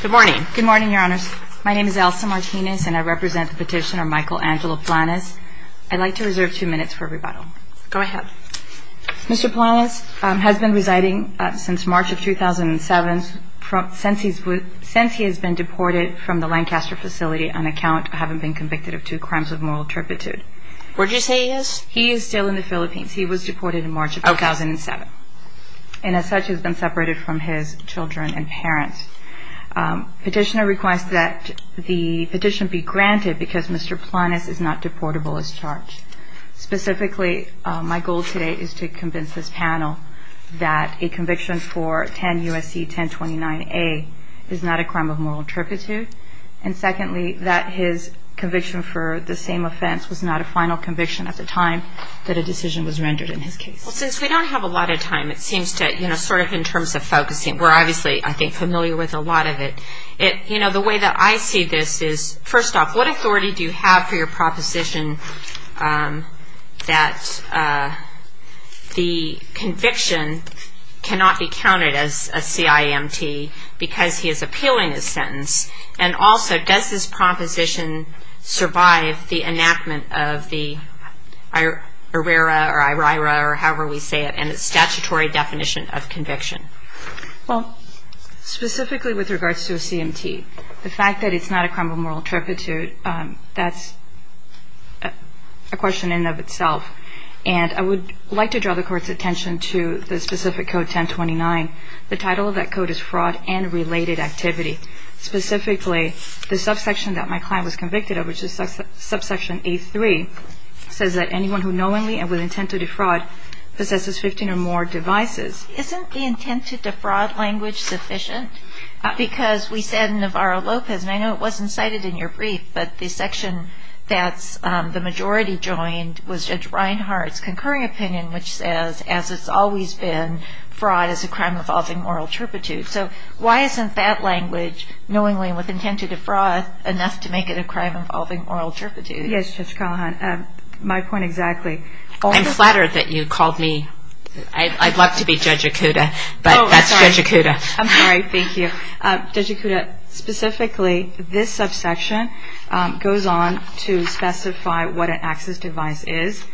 Good morning. Good morning, your honors. My name is Elsa Martinez and I represent the petitioner Michael Angelo Planes. I'd like to reserve two minutes for rebuttal. Go ahead. Mr. Planes has been residing since March of 2007 since he has been deported from the Lancaster facility on account of having been convicted of two crimes of moral turpitude. Where did you say he is? He is still in the Philippines. He was deported in March of 2007. And as such has been separated from his children and parents. Petitioner requests that the petition be granted because Mr. Planes is not deportable as charged. Specifically, my goal today is to convince this panel that a conviction for 10 U.S.C. 1029A is not a crime of moral turpitude. And secondly, that his conviction for the same offense was not a final conviction at the time that a decision was rendered in his case. Well, since we don't have a lot of time, it seems to, you know, sort of in terms of focusing, we're obviously, I think, familiar with a lot of it. You know, the way that I see this is, first off, what authority do you have for your proposition that the conviction cannot be counted as a CIMT because he is appealing his sentence? And also, does this proposition survive the enactment of the IRERA or IRIRA or however we say it and its statutory definition of conviction? Well, specifically with regards to a CIMT, the fact that it's not a crime of moral turpitude, that's a question in and of itself. And I would like to draw the Court's attention to the specific Code 1029. The title of that Code is Fraud and Related Activity. Specifically, the subsection that my client was convicted of, which is subsection A3, says that anyone who knowingly and with intent to defraud possesses 15 or more devices. Isn't the intent to defraud language sufficient? Because we said Navarro-Lopez, and I know it wasn't cited in your brief, but the section that the majority joined was Judge Reinhart's concurring opinion, which says, as it's always been, fraud is a crime involving moral turpitude. So why isn't that language, knowingly and with intent to defraud, enough to make it a crime involving moral turpitude? Yes, Judge Callahan, my point exactly. I'm flattered that you called me. I'd love to be Judge Okuda, but that's Judge Okuda. I'm sorry, thank you. Judge Okuda, specifically, this subsection goes on to specify what an access device is,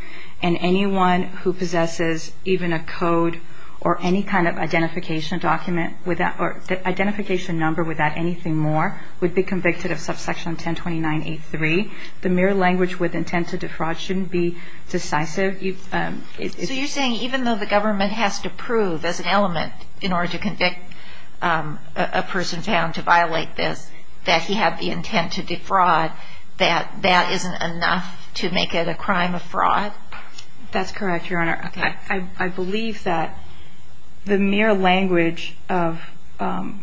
and anyone who possesses even a code or any kind of identification document or identification number without anything more would be convicted of subsection 1029A3. The mere language with intent to defraud shouldn't be decisive. So you're saying even though the government has to prove as an element in order to convict a person found to violate this, that he had the intent to defraud, that that isn't enough to make it a crime of fraud? That's correct, Your Honor. I believe that the mere language of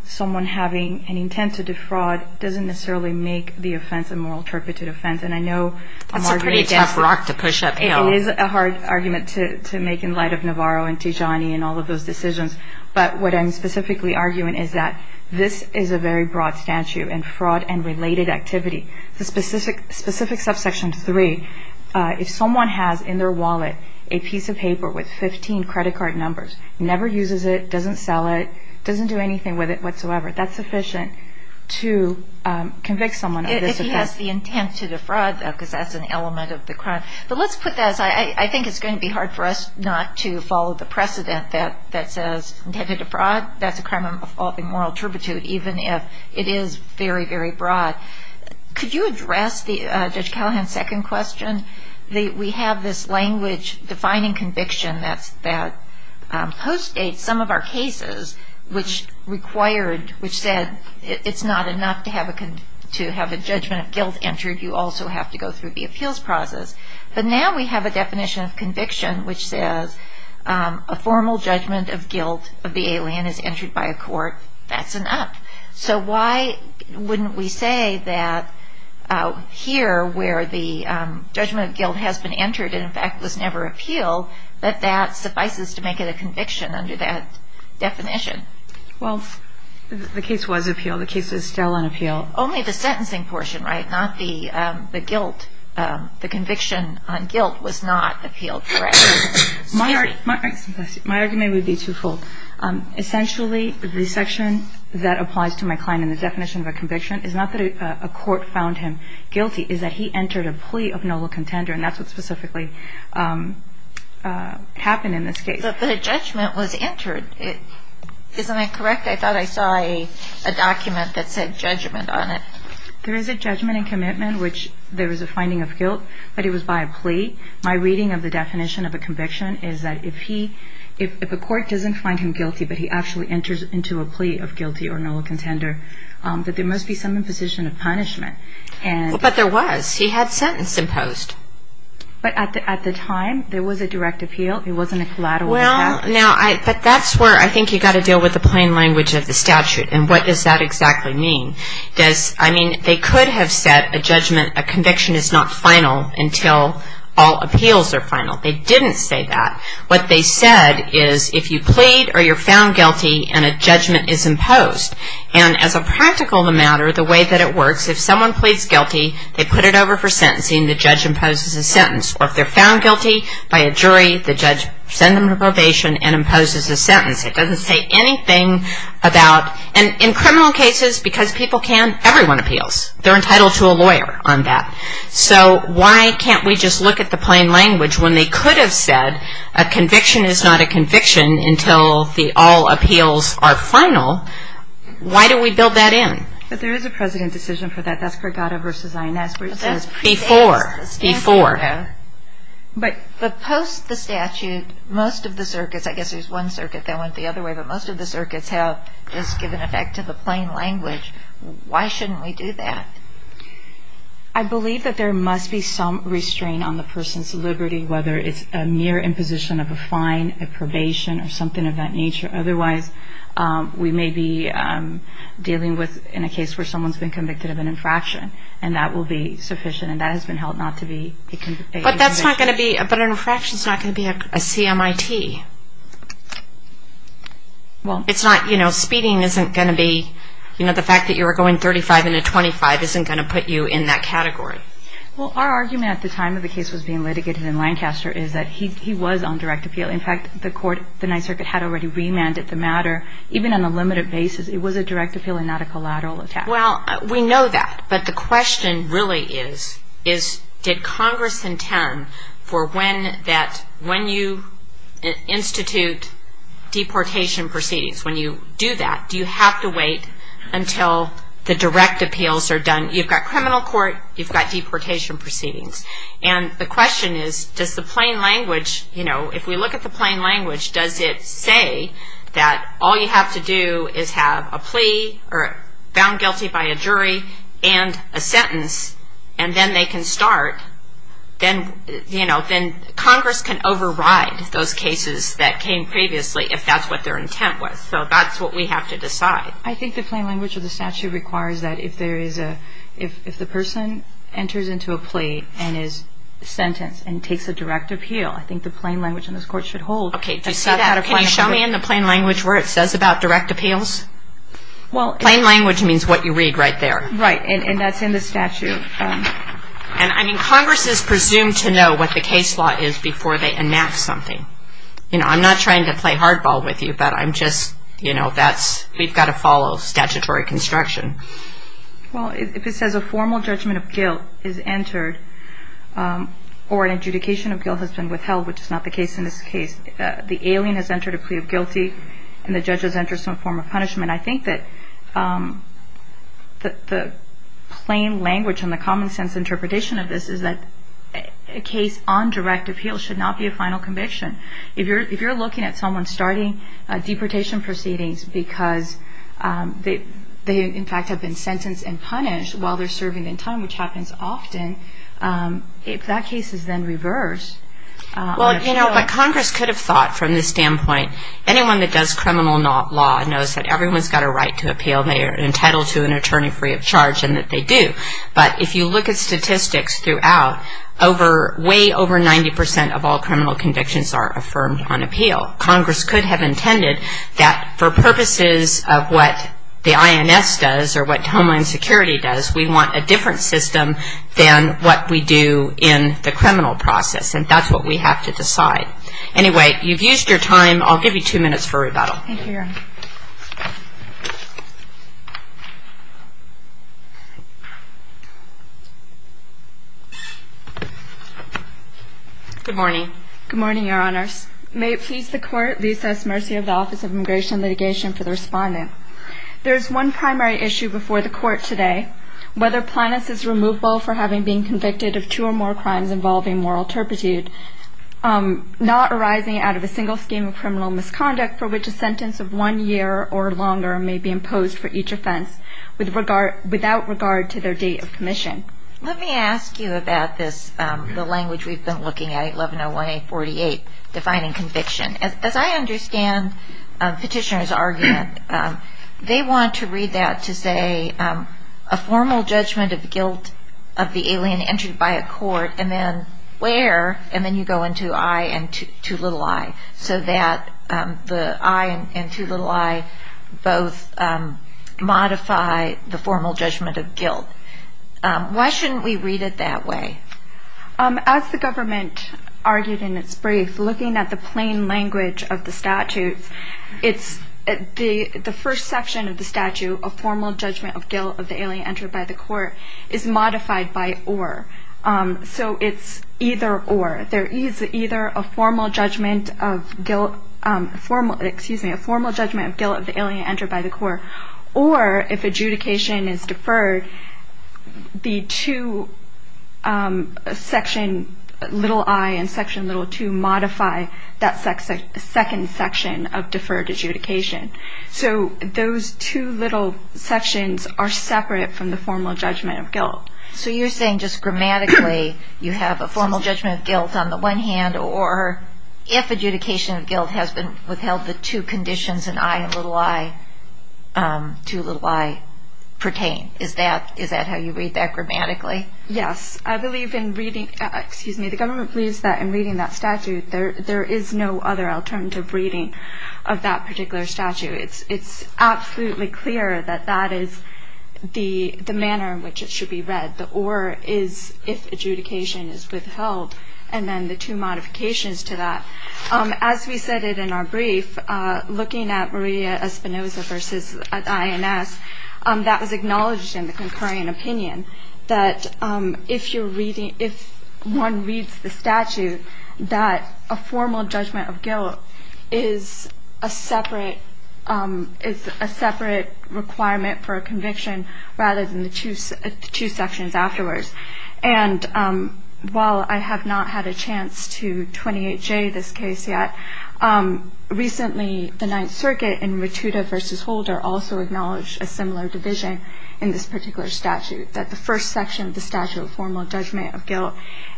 someone having an intent to defraud doesn't necessarily make the offense a moral turpitude offense, and I know I'm arguing against that. That's a pretty tough rock to push uphill. It is a hard argument to make in light of Navarro and Tijani and all of those decisions, but what I'm specifically arguing is that this is a very broad statute in fraud and related activity. The specific subsection 3, if someone has in their wallet a piece of paper with 15 credit card numbers, never uses it, doesn't sell it, doesn't do anything with it whatsoever, that's sufficient to convict someone of this offense. He has the intent to defraud, though, because that's an element of the crime. But let's put that as I think it's going to be hard for us not to follow the precedent that says intent to defraud, that's a crime of moral turpitude, even if it is very, very broad. Could you address Judge Callahan's second question? We have this language defining conviction that postdates some of our cases, which said it's not enough to have a judgment of guilt entered. You also have to go through the appeals process. But now we have a definition of conviction which says a formal judgment of guilt of the alien is entered by a court. That's enough. So why wouldn't we say that here where the judgment of guilt has been entered and, in fact, was never appealed, that that suffices to make it a conviction under that definition? Well, the case was appealed. The case is still on appeal. Only the sentencing portion, right, not the guilt. The conviction on guilt was not appealed, correct? My argument would be twofold. Essentially, the section that applies to my client in the definition of a conviction is not that a court found him guilty, is that he entered a plea of noble contender, and that's what specifically happened in this case. But the judgment was entered. Isn't that correct? I thought I saw a document that said judgment on it. There is a judgment and commitment, which there is a finding of guilt, but it was by a plea. My reading of the definition of a conviction is that if a court doesn't find him guilty, but he actually enters into a plea of guilty or noble contender, that there must be some imposition of punishment. But there was. He had sentence imposed. But at the time, there was a direct appeal. It wasn't a collateral impact. But that's where I think you've got to deal with the plain language of the statute, and what does that exactly mean? I mean, they could have said a judgment, a conviction is not final until all appeals are final. They didn't say that. What they said is if you plead or you're found guilty and a judgment is imposed, and as a practical matter, the way that it works, if someone pleads guilty, they put it over for sentencing, the judge imposes a sentence. Or if they're found guilty by a jury, the judge sends them to probation and imposes a sentence. It doesn't say anything about, and in criminal cases, because people can, everyone appeals. They're entitled to a lawyer on that. So why can't we just look at the plain language when they could have said a conviction is not a conviction until all appeals are final? Why do we build that in? But there is a precedent decision for that. That's Pregada v. Ines where it says pre-status. Before, before. But post the statute, most of the circuits, I guess there's one circuit that went the other way, but most of the circuits have just given effect to the plain language. Why shouldn't we do that? I believe that there must be some restraint on the person's liberty, whether it's a mere imposition of a fine, a probation, or something of that nature. Otherwise, we may be dealing with, in a case where someone's been convicted of an infraction, and that will be sufficient, and that has been held not to be a conviction. But that's not going to be, but an infraction's not going to be a CMIT. It's not, you know, speeding isn't going to be, you know, the fact that you were going 35 in a 25 isn't going to put you in that category. Well, our argument at the time that the case was being litigated in Lancaster is that he was on direct appeal. In fact, the court, the Ninth Circuit, had already remanded the matter. Even on a limited basis, it was a direct appeal and not a collateral attack. Well, we know that, but the question really is, is did Congress intend for when that, when you institute deportation proceedings, when you do that, do you have to wait until the direct appeals are done? You've got criminal court, you've got deportation proceedings. And the question is, does the plain language, you know, if we look at the plain language, does it say that all you have to do is have a plea or found guilty by a jury and a sentence, and then they can start, then, you know, then Congress can override those cases that came previously if that's what their intent was. So that's what we have to decide. I think the plain language of the statute requires that if there is a, if the person enters into a plea and is sentenced and takes a direct appeal, I think the plain language in this court should hold. Okay. Do you see that? Can you show me in the plain language where it says about direct appeals? Well. Plain language means what you read right there. Right. And that's in the statute. And, I mean, Congress is presumed to know what the case law is before they enact something. You know, I'm not trying to play hardball with you, but I'm just, you know, that's, we've got to follow statutory construction. Well, if it says a formal judgment of guilt is entered or an adjudication of guilt has been withheld, which is not the case in this case, the alien has entered a plea of guilty, and the judge has entered some form of punishment, I think that the plain language and the common sense interpretation of this is that a case on direct appeal should not be a final conviction. If you're looking at someone starting deportation proceedings because they, in fact, have been sentenced and punished while they're serving in time, which happens often, if that case is then reversed. Well, you know, but Congress could have thought from this standpoint, anyone that does criminal law knows that everyone's got a right to appeal. They are entitled to an attorney free of charge and that they do. But if you look at statistics throughout, way over 90% of all criminal convictions are affirmed on appeal. Congress could have intended that for purposes of what the INS does or what Homeland Security does, we want a different system than what we do in the criminal process, and that's what we have to decide. Anyway, you've used your time. I'll give you two minutes for rebuttal. Thank you, Your Honor. Good morning. Good morning, Your Honors. May it please the Court, we assess mercy of the Office of Immigration and Litigation for the respondent. There is one primary issue before the Court today, whether Plinus is removable for having been convicted of two or more crimes involving moral turpitude, not arising out of a single scheme of criminal misconduct for which a sentence of one year or longer may be imposed for each offense without regard to their date of commission. Let me ask you about this, the language we've been looking at, 1101A48, defining conviction. As I understand Petitioner's argument, they want to read that to say a formal judgment of guilt of the alien entered by a court and then where, and then you go into I and too little I, so that the I and too little I both modify the formal judgment of guilt. Why shouldn't we read it that way? As the government argued in its brief, looking at the plain language of the statutes, the first section of the statute, a formal judgment of guilt of the alien entered by the court, is modified by or. So it's either or. There is either a formal judgment of guilt of the alien entered by the court or if adjudication is deferred, the two section, little I and section little II, modify that second section of deferred adjudication. So those two little sections are separate from the formal judgment of guilt. So you're saying just grammatically you have a formal judgment of guilt on the one hand or if adjudication of guilt has been withheld, the two conditions in I and little I, too little I, pertain. Is that how you read that grammatically? Yes. I believe in reading, excuse me, the government believes that in reading that statute, there is no other alternative reading of that particular statute. It's absolutely clear that that is the manner in which it should be read. The or is if adjudication is withheld, and then the two modifications to that. As we said in our brief, looking at Maria Espinoza v. INS, that was acknowledged in the concurring opinion that if one reads the statute, that a formal judgment of guilt is a separate requirement for a conviction rather than the two sections afterwards. And while I have not had a chance to 28J this case yet, recently the Ninth Circuit in Rotuda v. Holder also acknowledged a similar division in this particular statute, that the first section of the statute, formal judgment of guilt,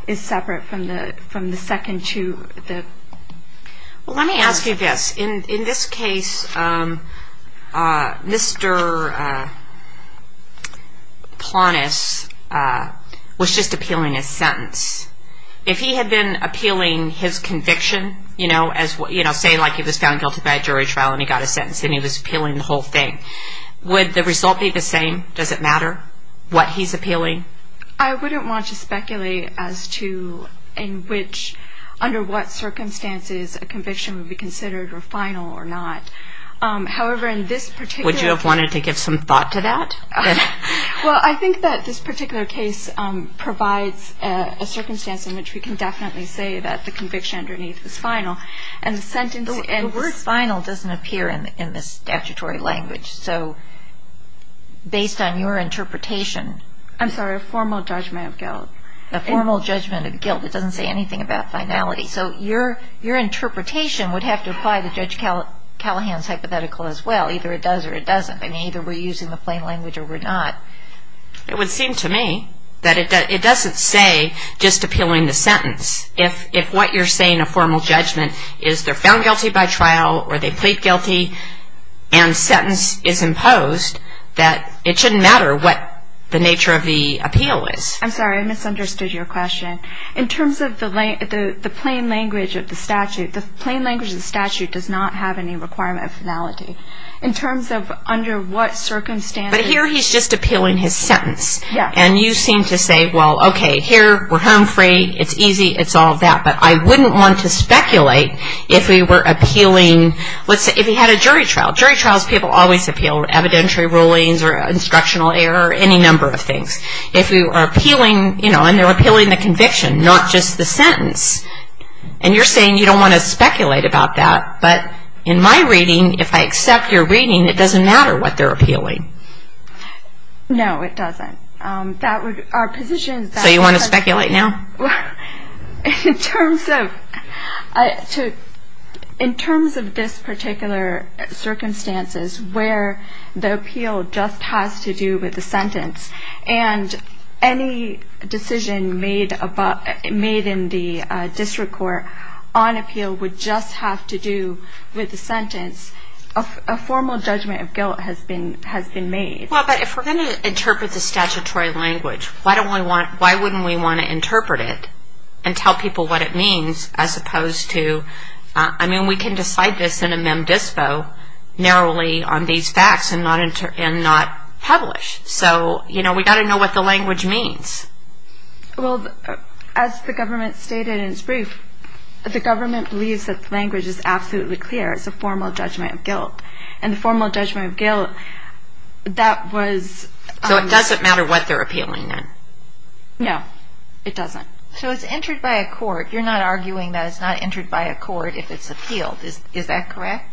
is separate from the second to the third. Well, let me ask you this. In this case, Mr. Plantes was just appealing his sentence. If he had been appealing his conviction, you know, say like he was found guilty by a jury trial and he got a sentence and he was appealing the whole thing, would the result be the same? Does it matter what he's appealing? I wouldn't want to speculate as to in which, under what circumstances, a conviction would be considered final or not. However, in this particular case. Would you have wanted to give some thought to that? Well, I think that this particular case provides a circumstance in which we can definitely say that the conviction underneath is final. The word final doesn't appear in the statutory language. So based on your interpretation. I'm sorry, a formal judgment of guilt. A formal judgment of guilt. It doesn't say anything about finality. So your interpretation would have to apply to Judge Callahan's hypothetical as well. Either it does or it doesn't. I mean, either we're using the plain language or we're not. It would seem to me that it doesn't say just appealing the sentence. If what you're saying, a formal judgment, is they're found guilty by trial or they plead guilty and sentence is imposed, that it shouldn't matter what the nature of the appeal is. I'm sorry, I misunderstood your question. In terms of the plain language of the statute, the plain language of the statute does not have any requirement of finality. In terms of under what circumstances. But here he's just appealing his sentence. Yes. And you seem to say, well, okay, here we're home free. It's easy. It's all that. But I wouldn't want to speculate if we were appealing. Let's say if he had a jury trial. Jury trials people always appeal evidentiary rulings or instructional error or any number of things. If we were appealing, you know, and they're appealing the conviction, not just the sentence. And you're saying you don't want to speculate about that. But in my reading, if I accept your reading, it doesn't matter what they're appealing. No, it doesn't. So you want to speculate now? In terms of this particular circumstances, where the appeal just has to do with the sentence, and any decision made in the district court on appeal would just have to do with the sentence, a formal judgment of guilt has been made. Well, but if we're going to interpret the statutory language, why wouldn't we want to interpret it and tell people what it means as opposed to, I mean, we can decide this in a mem dispo narrowly on these facts and not publish. So, you know, we've got to know what the language means. Well, as the government stated in its brief, the government believes that the language is absolutely clear. It's a formal judgment of guilt. And the formal judgment of guilt, that was ‑‑ So it doesn't matter what they're appealing then? No, it doesn't. So it's entered by a court. You're not arguing that it's not entered by a court if it's appealed. Is that correct?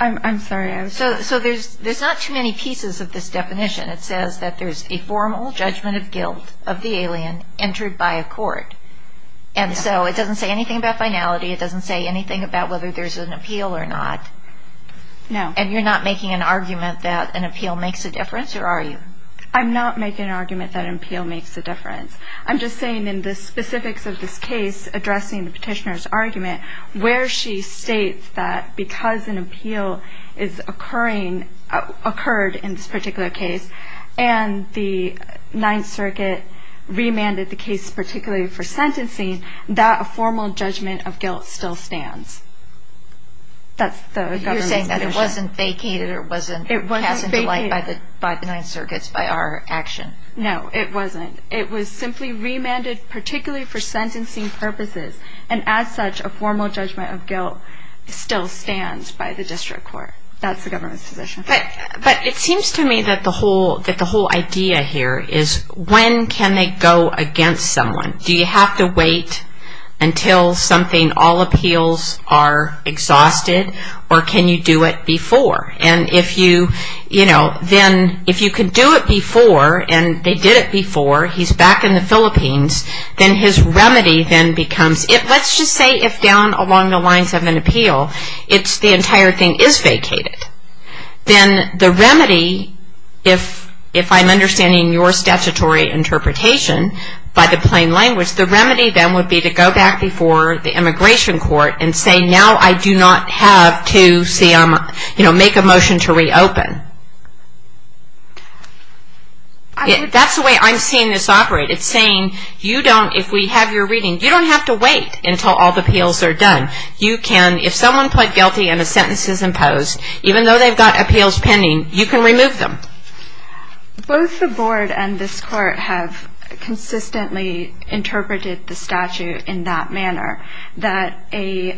I'm sorry. So there's not too many pieces of this definition. It says that there's a formal judgment of guilt of the alien entered by a court. And so it doesn't say anything about finality. It doesn't say anything about whether there's an appeal or not. No. And you're not making an argument that an appeal makes a difference, or are you? I'm not making an argument that an appeal makes a difference. I'm just saying in the specifics of this case, addressing the petitioner's argument, where she states that because an appeal is occurring ‑‑ occurred in this particular case, and the Ninth Circuit remanded the case particularly for sentencing, that a formal judgment of guilt still stands. That's the government's position. You're saying that it wasn't vacated or it wasn't passed into light by the Ninth Circuit, by our action. No, it wasn't. It was simply remanded particularly for sentencing purposes. And as such, a formal judgment of guilt still stands by the district court. That's the government's position. But it seems to me that the whole idea here is when can they go against someone? Do you have to wait until something, all appeals are exhausted? Or can you do it before? And if you can do it before, and they did it before, he's back in the Philippines, then his remedy then becomes ‑‑ let's just say if down along the lines of an appeal, the entire thing is vacated, then the remedy, if I'm understanding your statutory interpretation by the plain language, the remedy then would be to go back before the immigration court and say, now I do not have to make a motion to reopen. That's the way I'm seeing this operate. It's saying you don't, if we have your reading, you don't have to wait until all the appeals are done. You can, if someone pled guilty and a sentence is imposed, even though they've got appeals pending, you can remove them. Both the board and this court have consistently interpreted the statute in that manner, that a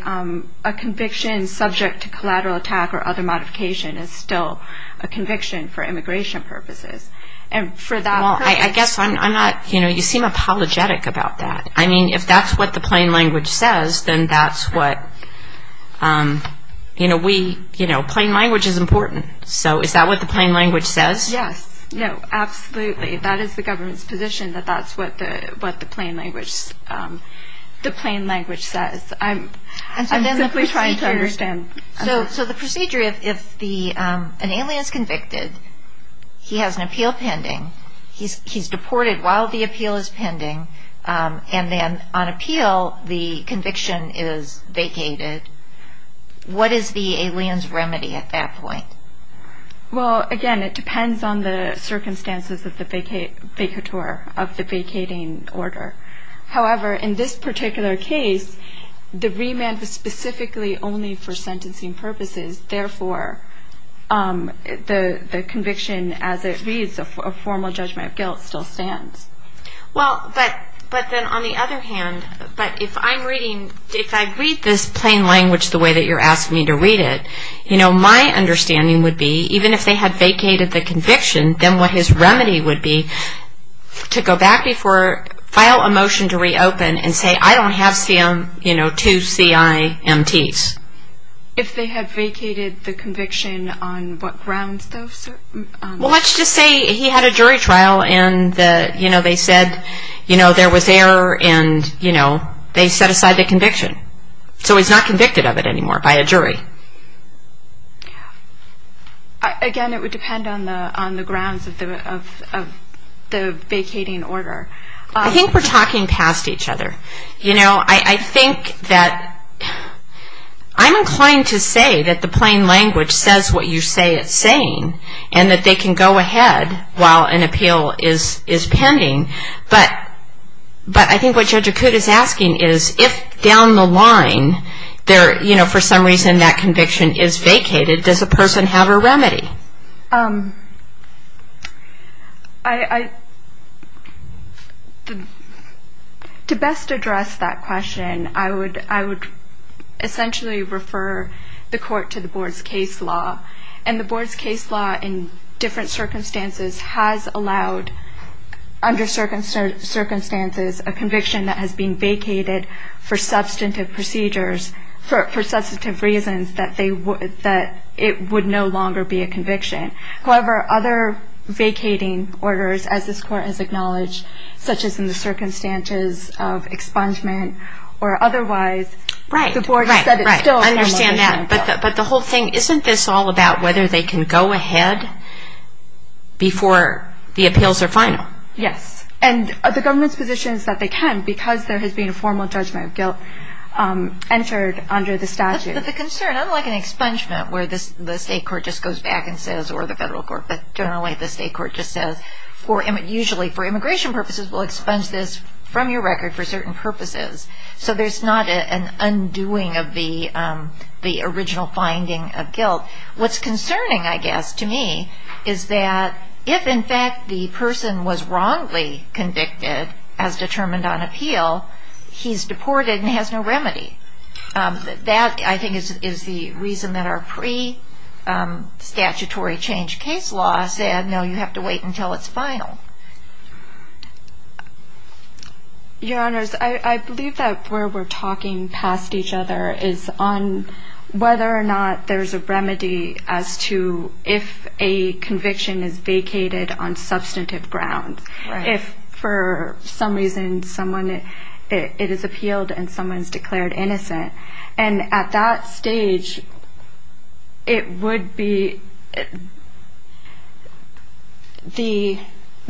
conviction subject to collateral attack or other modification is still a conviction for immigration purposes. And for that purpose ‑‑ Well, I guess I'm not, you know, you seem apologetic about that. I mean, if that's what the plain language says, then that's what, you know, plain language is important. So is that what the plain language says? Yes, no, absolutely. That is the government's position that that's what the plain language says. I'm simply trying to understand. So the procedure, if an alien is convicted, he has an appeal pending, he's deported while the appeal is pending, and then on appeal the conviction is vacated, what is the alien's remedy at that point? Well, again, it depends on the circumstances of the vacator, of the vacating order. However, in this particular case, the remand was specifically only for sentencing purposes, therefore the conviction as it reads a formal judgment of guilt still stands. Well, but then on the other hand, but if I'm reading, if I read this plain language the way that you're asking me to read it, you know, my understanding would be even if they had vacated the conviction, then what his remedy would be to go back before, file a motion to reopen and say, I don't have, you know, two CIMTs. If they had vacated the conviction on what grounds, though? Well, let's just say he had a jury trial and, you know, they said, you know, there was error and, you know, they set aside the conviction. So he's not convicted of it anymore by a jury. Again, it would depend on the grounds of the vacating order. I think we're talking past each other. You know, I think that I'm inclined to say that the plain language says what you say it's saying and that they can go ahead while an appeal is pending, but I think what Judge Akut is asking is if down the line there, you know, for some reason that conviction is vacated, does a person have a remedy? I, to best address that question, I would essentially refer the court to the board's case law, and the board's case law in different circumstances has allowed, under certain circumstances, a conviction that has been vacated for substantive procedures for substantive reasons that it would no longer be a conviction. However, other vacating orders, as this court has acknowledged, such as in the circumstances of expungement or otherwise, the board has said it's still a criminal case law. But the whole thing, isn't this all about whether they can go ahead before the appeals are final? Yes, and the government's position is that they can, because there has been a formal judgment of guilt entered under the statute. But the concern, unlike an expungement where the state court just goes back and says, or the federal court, but generally the state court just says, usually for immigration purposes we'll expunge this from your record for certain purposes, so there's not an undoing of the original finding of guilt. What's concerning, I guess, to me, is that if in fact the person was wrongly convicted, as determined on appeal, he's deported and has no remedy. That, I think, is the reason that our pre-statutory change case law said, no, you have to wait until it's final. Your Honors, I believe that where we're talking past each other is on whether or not there's a remedy as to if a conviction is vacated on substantive grounds. If, for some reason, it is appealed and someone is declared innocent. At that stage, the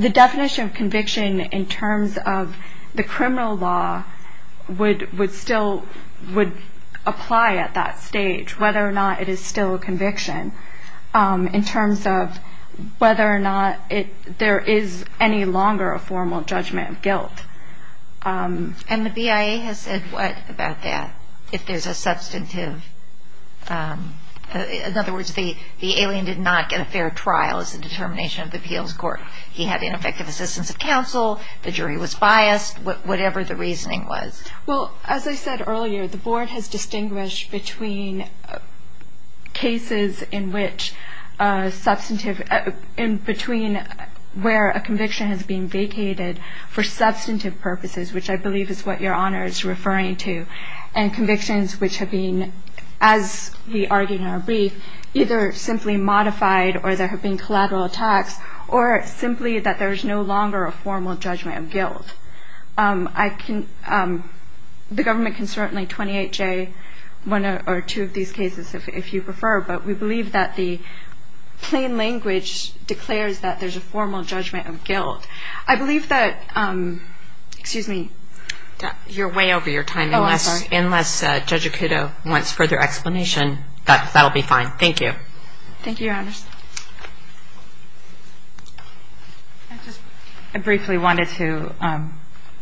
definition of conviction in terms of the criminal law would apply at that stage, whether or not it is still a conviction, in terms of whether or not there is any longer a formal judgment of guilt. And the BIA has said what about that? If there's a substantive... In other words, the alien did not get a fair trial as a determination of the appeals court. He had ineffective assistance of counsel, the jury was biased, whatever the reasoning was. Well, as I said earlier, the Board has distinguished between cases in which substantive... purposes, which I believe is what Your Honors are referring to, and convictions which have been, as we argued in our brief, either simply modified or there have been collateral attacks, or simply that there is no longer a formal judgment of guilt. I can... The government can certainly 28-J one or two of these cases if you prefer, but we believe that the plain language declares that there's a formal judgment of guilt. I believe that... Excuse me. You're way over your time. Oh, I'm sorry. Unless Judge Acuto wants further explanation, that will be fine. Thank you. Thank you, Your Honors. I briefly wanted to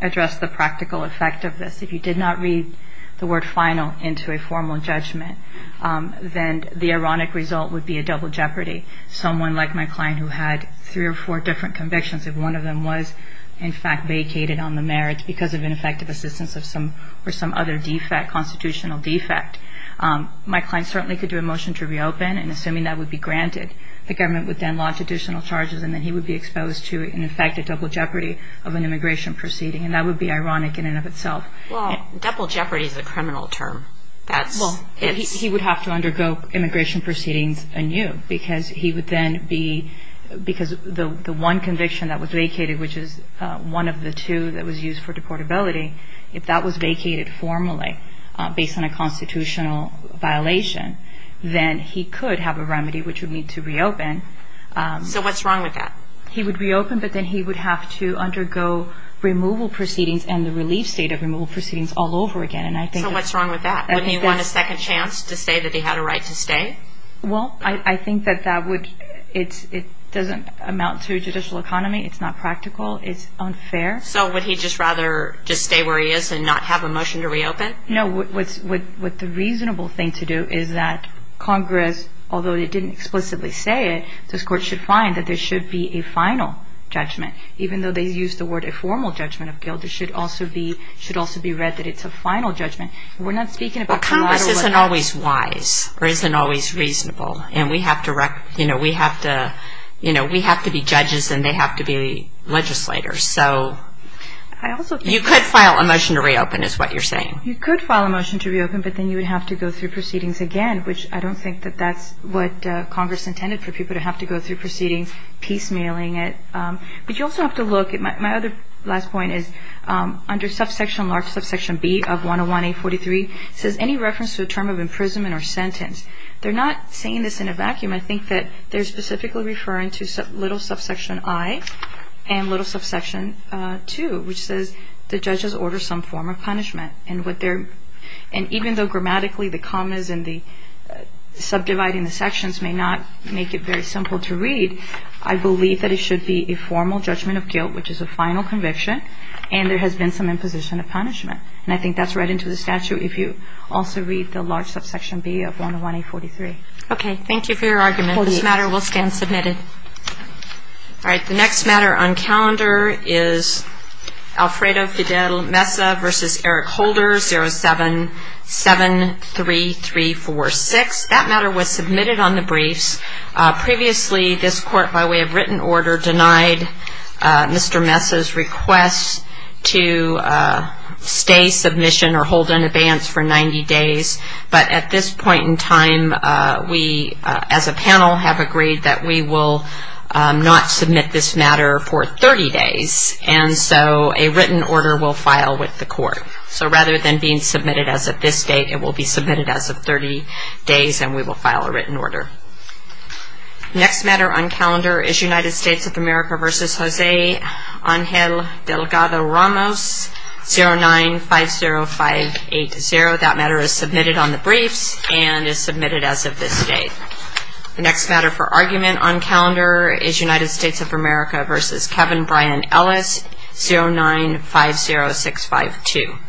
address the practical effect of this. If you did not read the word final into a formal judgment, then the ironic result would be a double jeopardy. Someone like my client who had three or four different convictions, if one of them was in fact vacated on the merits because of ineffective assistance of some... or some other defect, constitutional defect, my client certainly could do a motion to reopen, and assuming that would be granted, the government would then launch additional charges, and then he would be exposed to an effective double jeopardy of an immigration proceeding, and that would be ironic in and of itself. Well, double jeopardy is a criminal term. He would have to undergo immigration proceedings anew because he would then be... because the one conviction that was vacated, which is one of the two that was used for deportability, if that was vacated formally based on a constitutional violation, then he could have a remedy which would mean to reopen. So what's wrong with that? He would reopen, but then he would have to undergo removal proceedings and the relief state of removal proceedings all over again, and I think... Does he want a second chance to say that he had a right to stay? Well, I think that that would... it doesn't amount to a judicial economy. It's not practical. It's unfair. So would he just rather just stay where he is and not have a motion to reopen? No, what the reasonable thing to do is that Congress, although it didn't explicitly say it, this Court should find that there should be a final judgment. Even though they used the word a formal judgment of guilt, it should also be read that it's a final judgment. We're not speaking about collateral... Well, Congress isn't always wise or isn't always reasonable, and we have to be judges and they have to be legislators. So you could file a motion to reopen is what you're saying. You could file a motion to reopen, but then you would have to go through proceedings again, which I don't think that that's what Congress intended, for people to have to go through proceedings, piecemealing it. But you also have to look at... It says any reference to a term of imprisonment or sentence. They're not saying this in a vacuum. I think that they're specifically referring to little subsection I and little subsection II, which says the judges order some form of punishment. And even though grammatically the commas and the subdividing the sections may not make it very simple to read, I believe that it should be a formal judgment of guilt, which is a final conviction, and there has been some imposition of punishment. And I think that's right into the statute if you also read the large subsection B of 101A43. Okay. Thank you for your argument. This matter will stand submitted. All right. The next matter on calendar is Alfredo Fidel Mesa v. Eric Holder, 0773346. That matter was submitted on the briefs. Previously, this court, by way of written order, denied Mr. Mesa's request to stay submission or hold an abeyance for 90 days. But at this point in time, we as a panel have agreed that we will not submit this matter for 30 days. And so a written order will file with the court. So rather than being submitted as of this date, it will be submitted as of 30 days and we will file a written order. The next matter on calendar is United States of America v. Jose Angel Delgado Ramos, 0950580. That matter is submitted on the briefs and is submitted as of this date. The next matter for argument on calendar is United States of America v. Kevin Bryan Ellis, 0950652.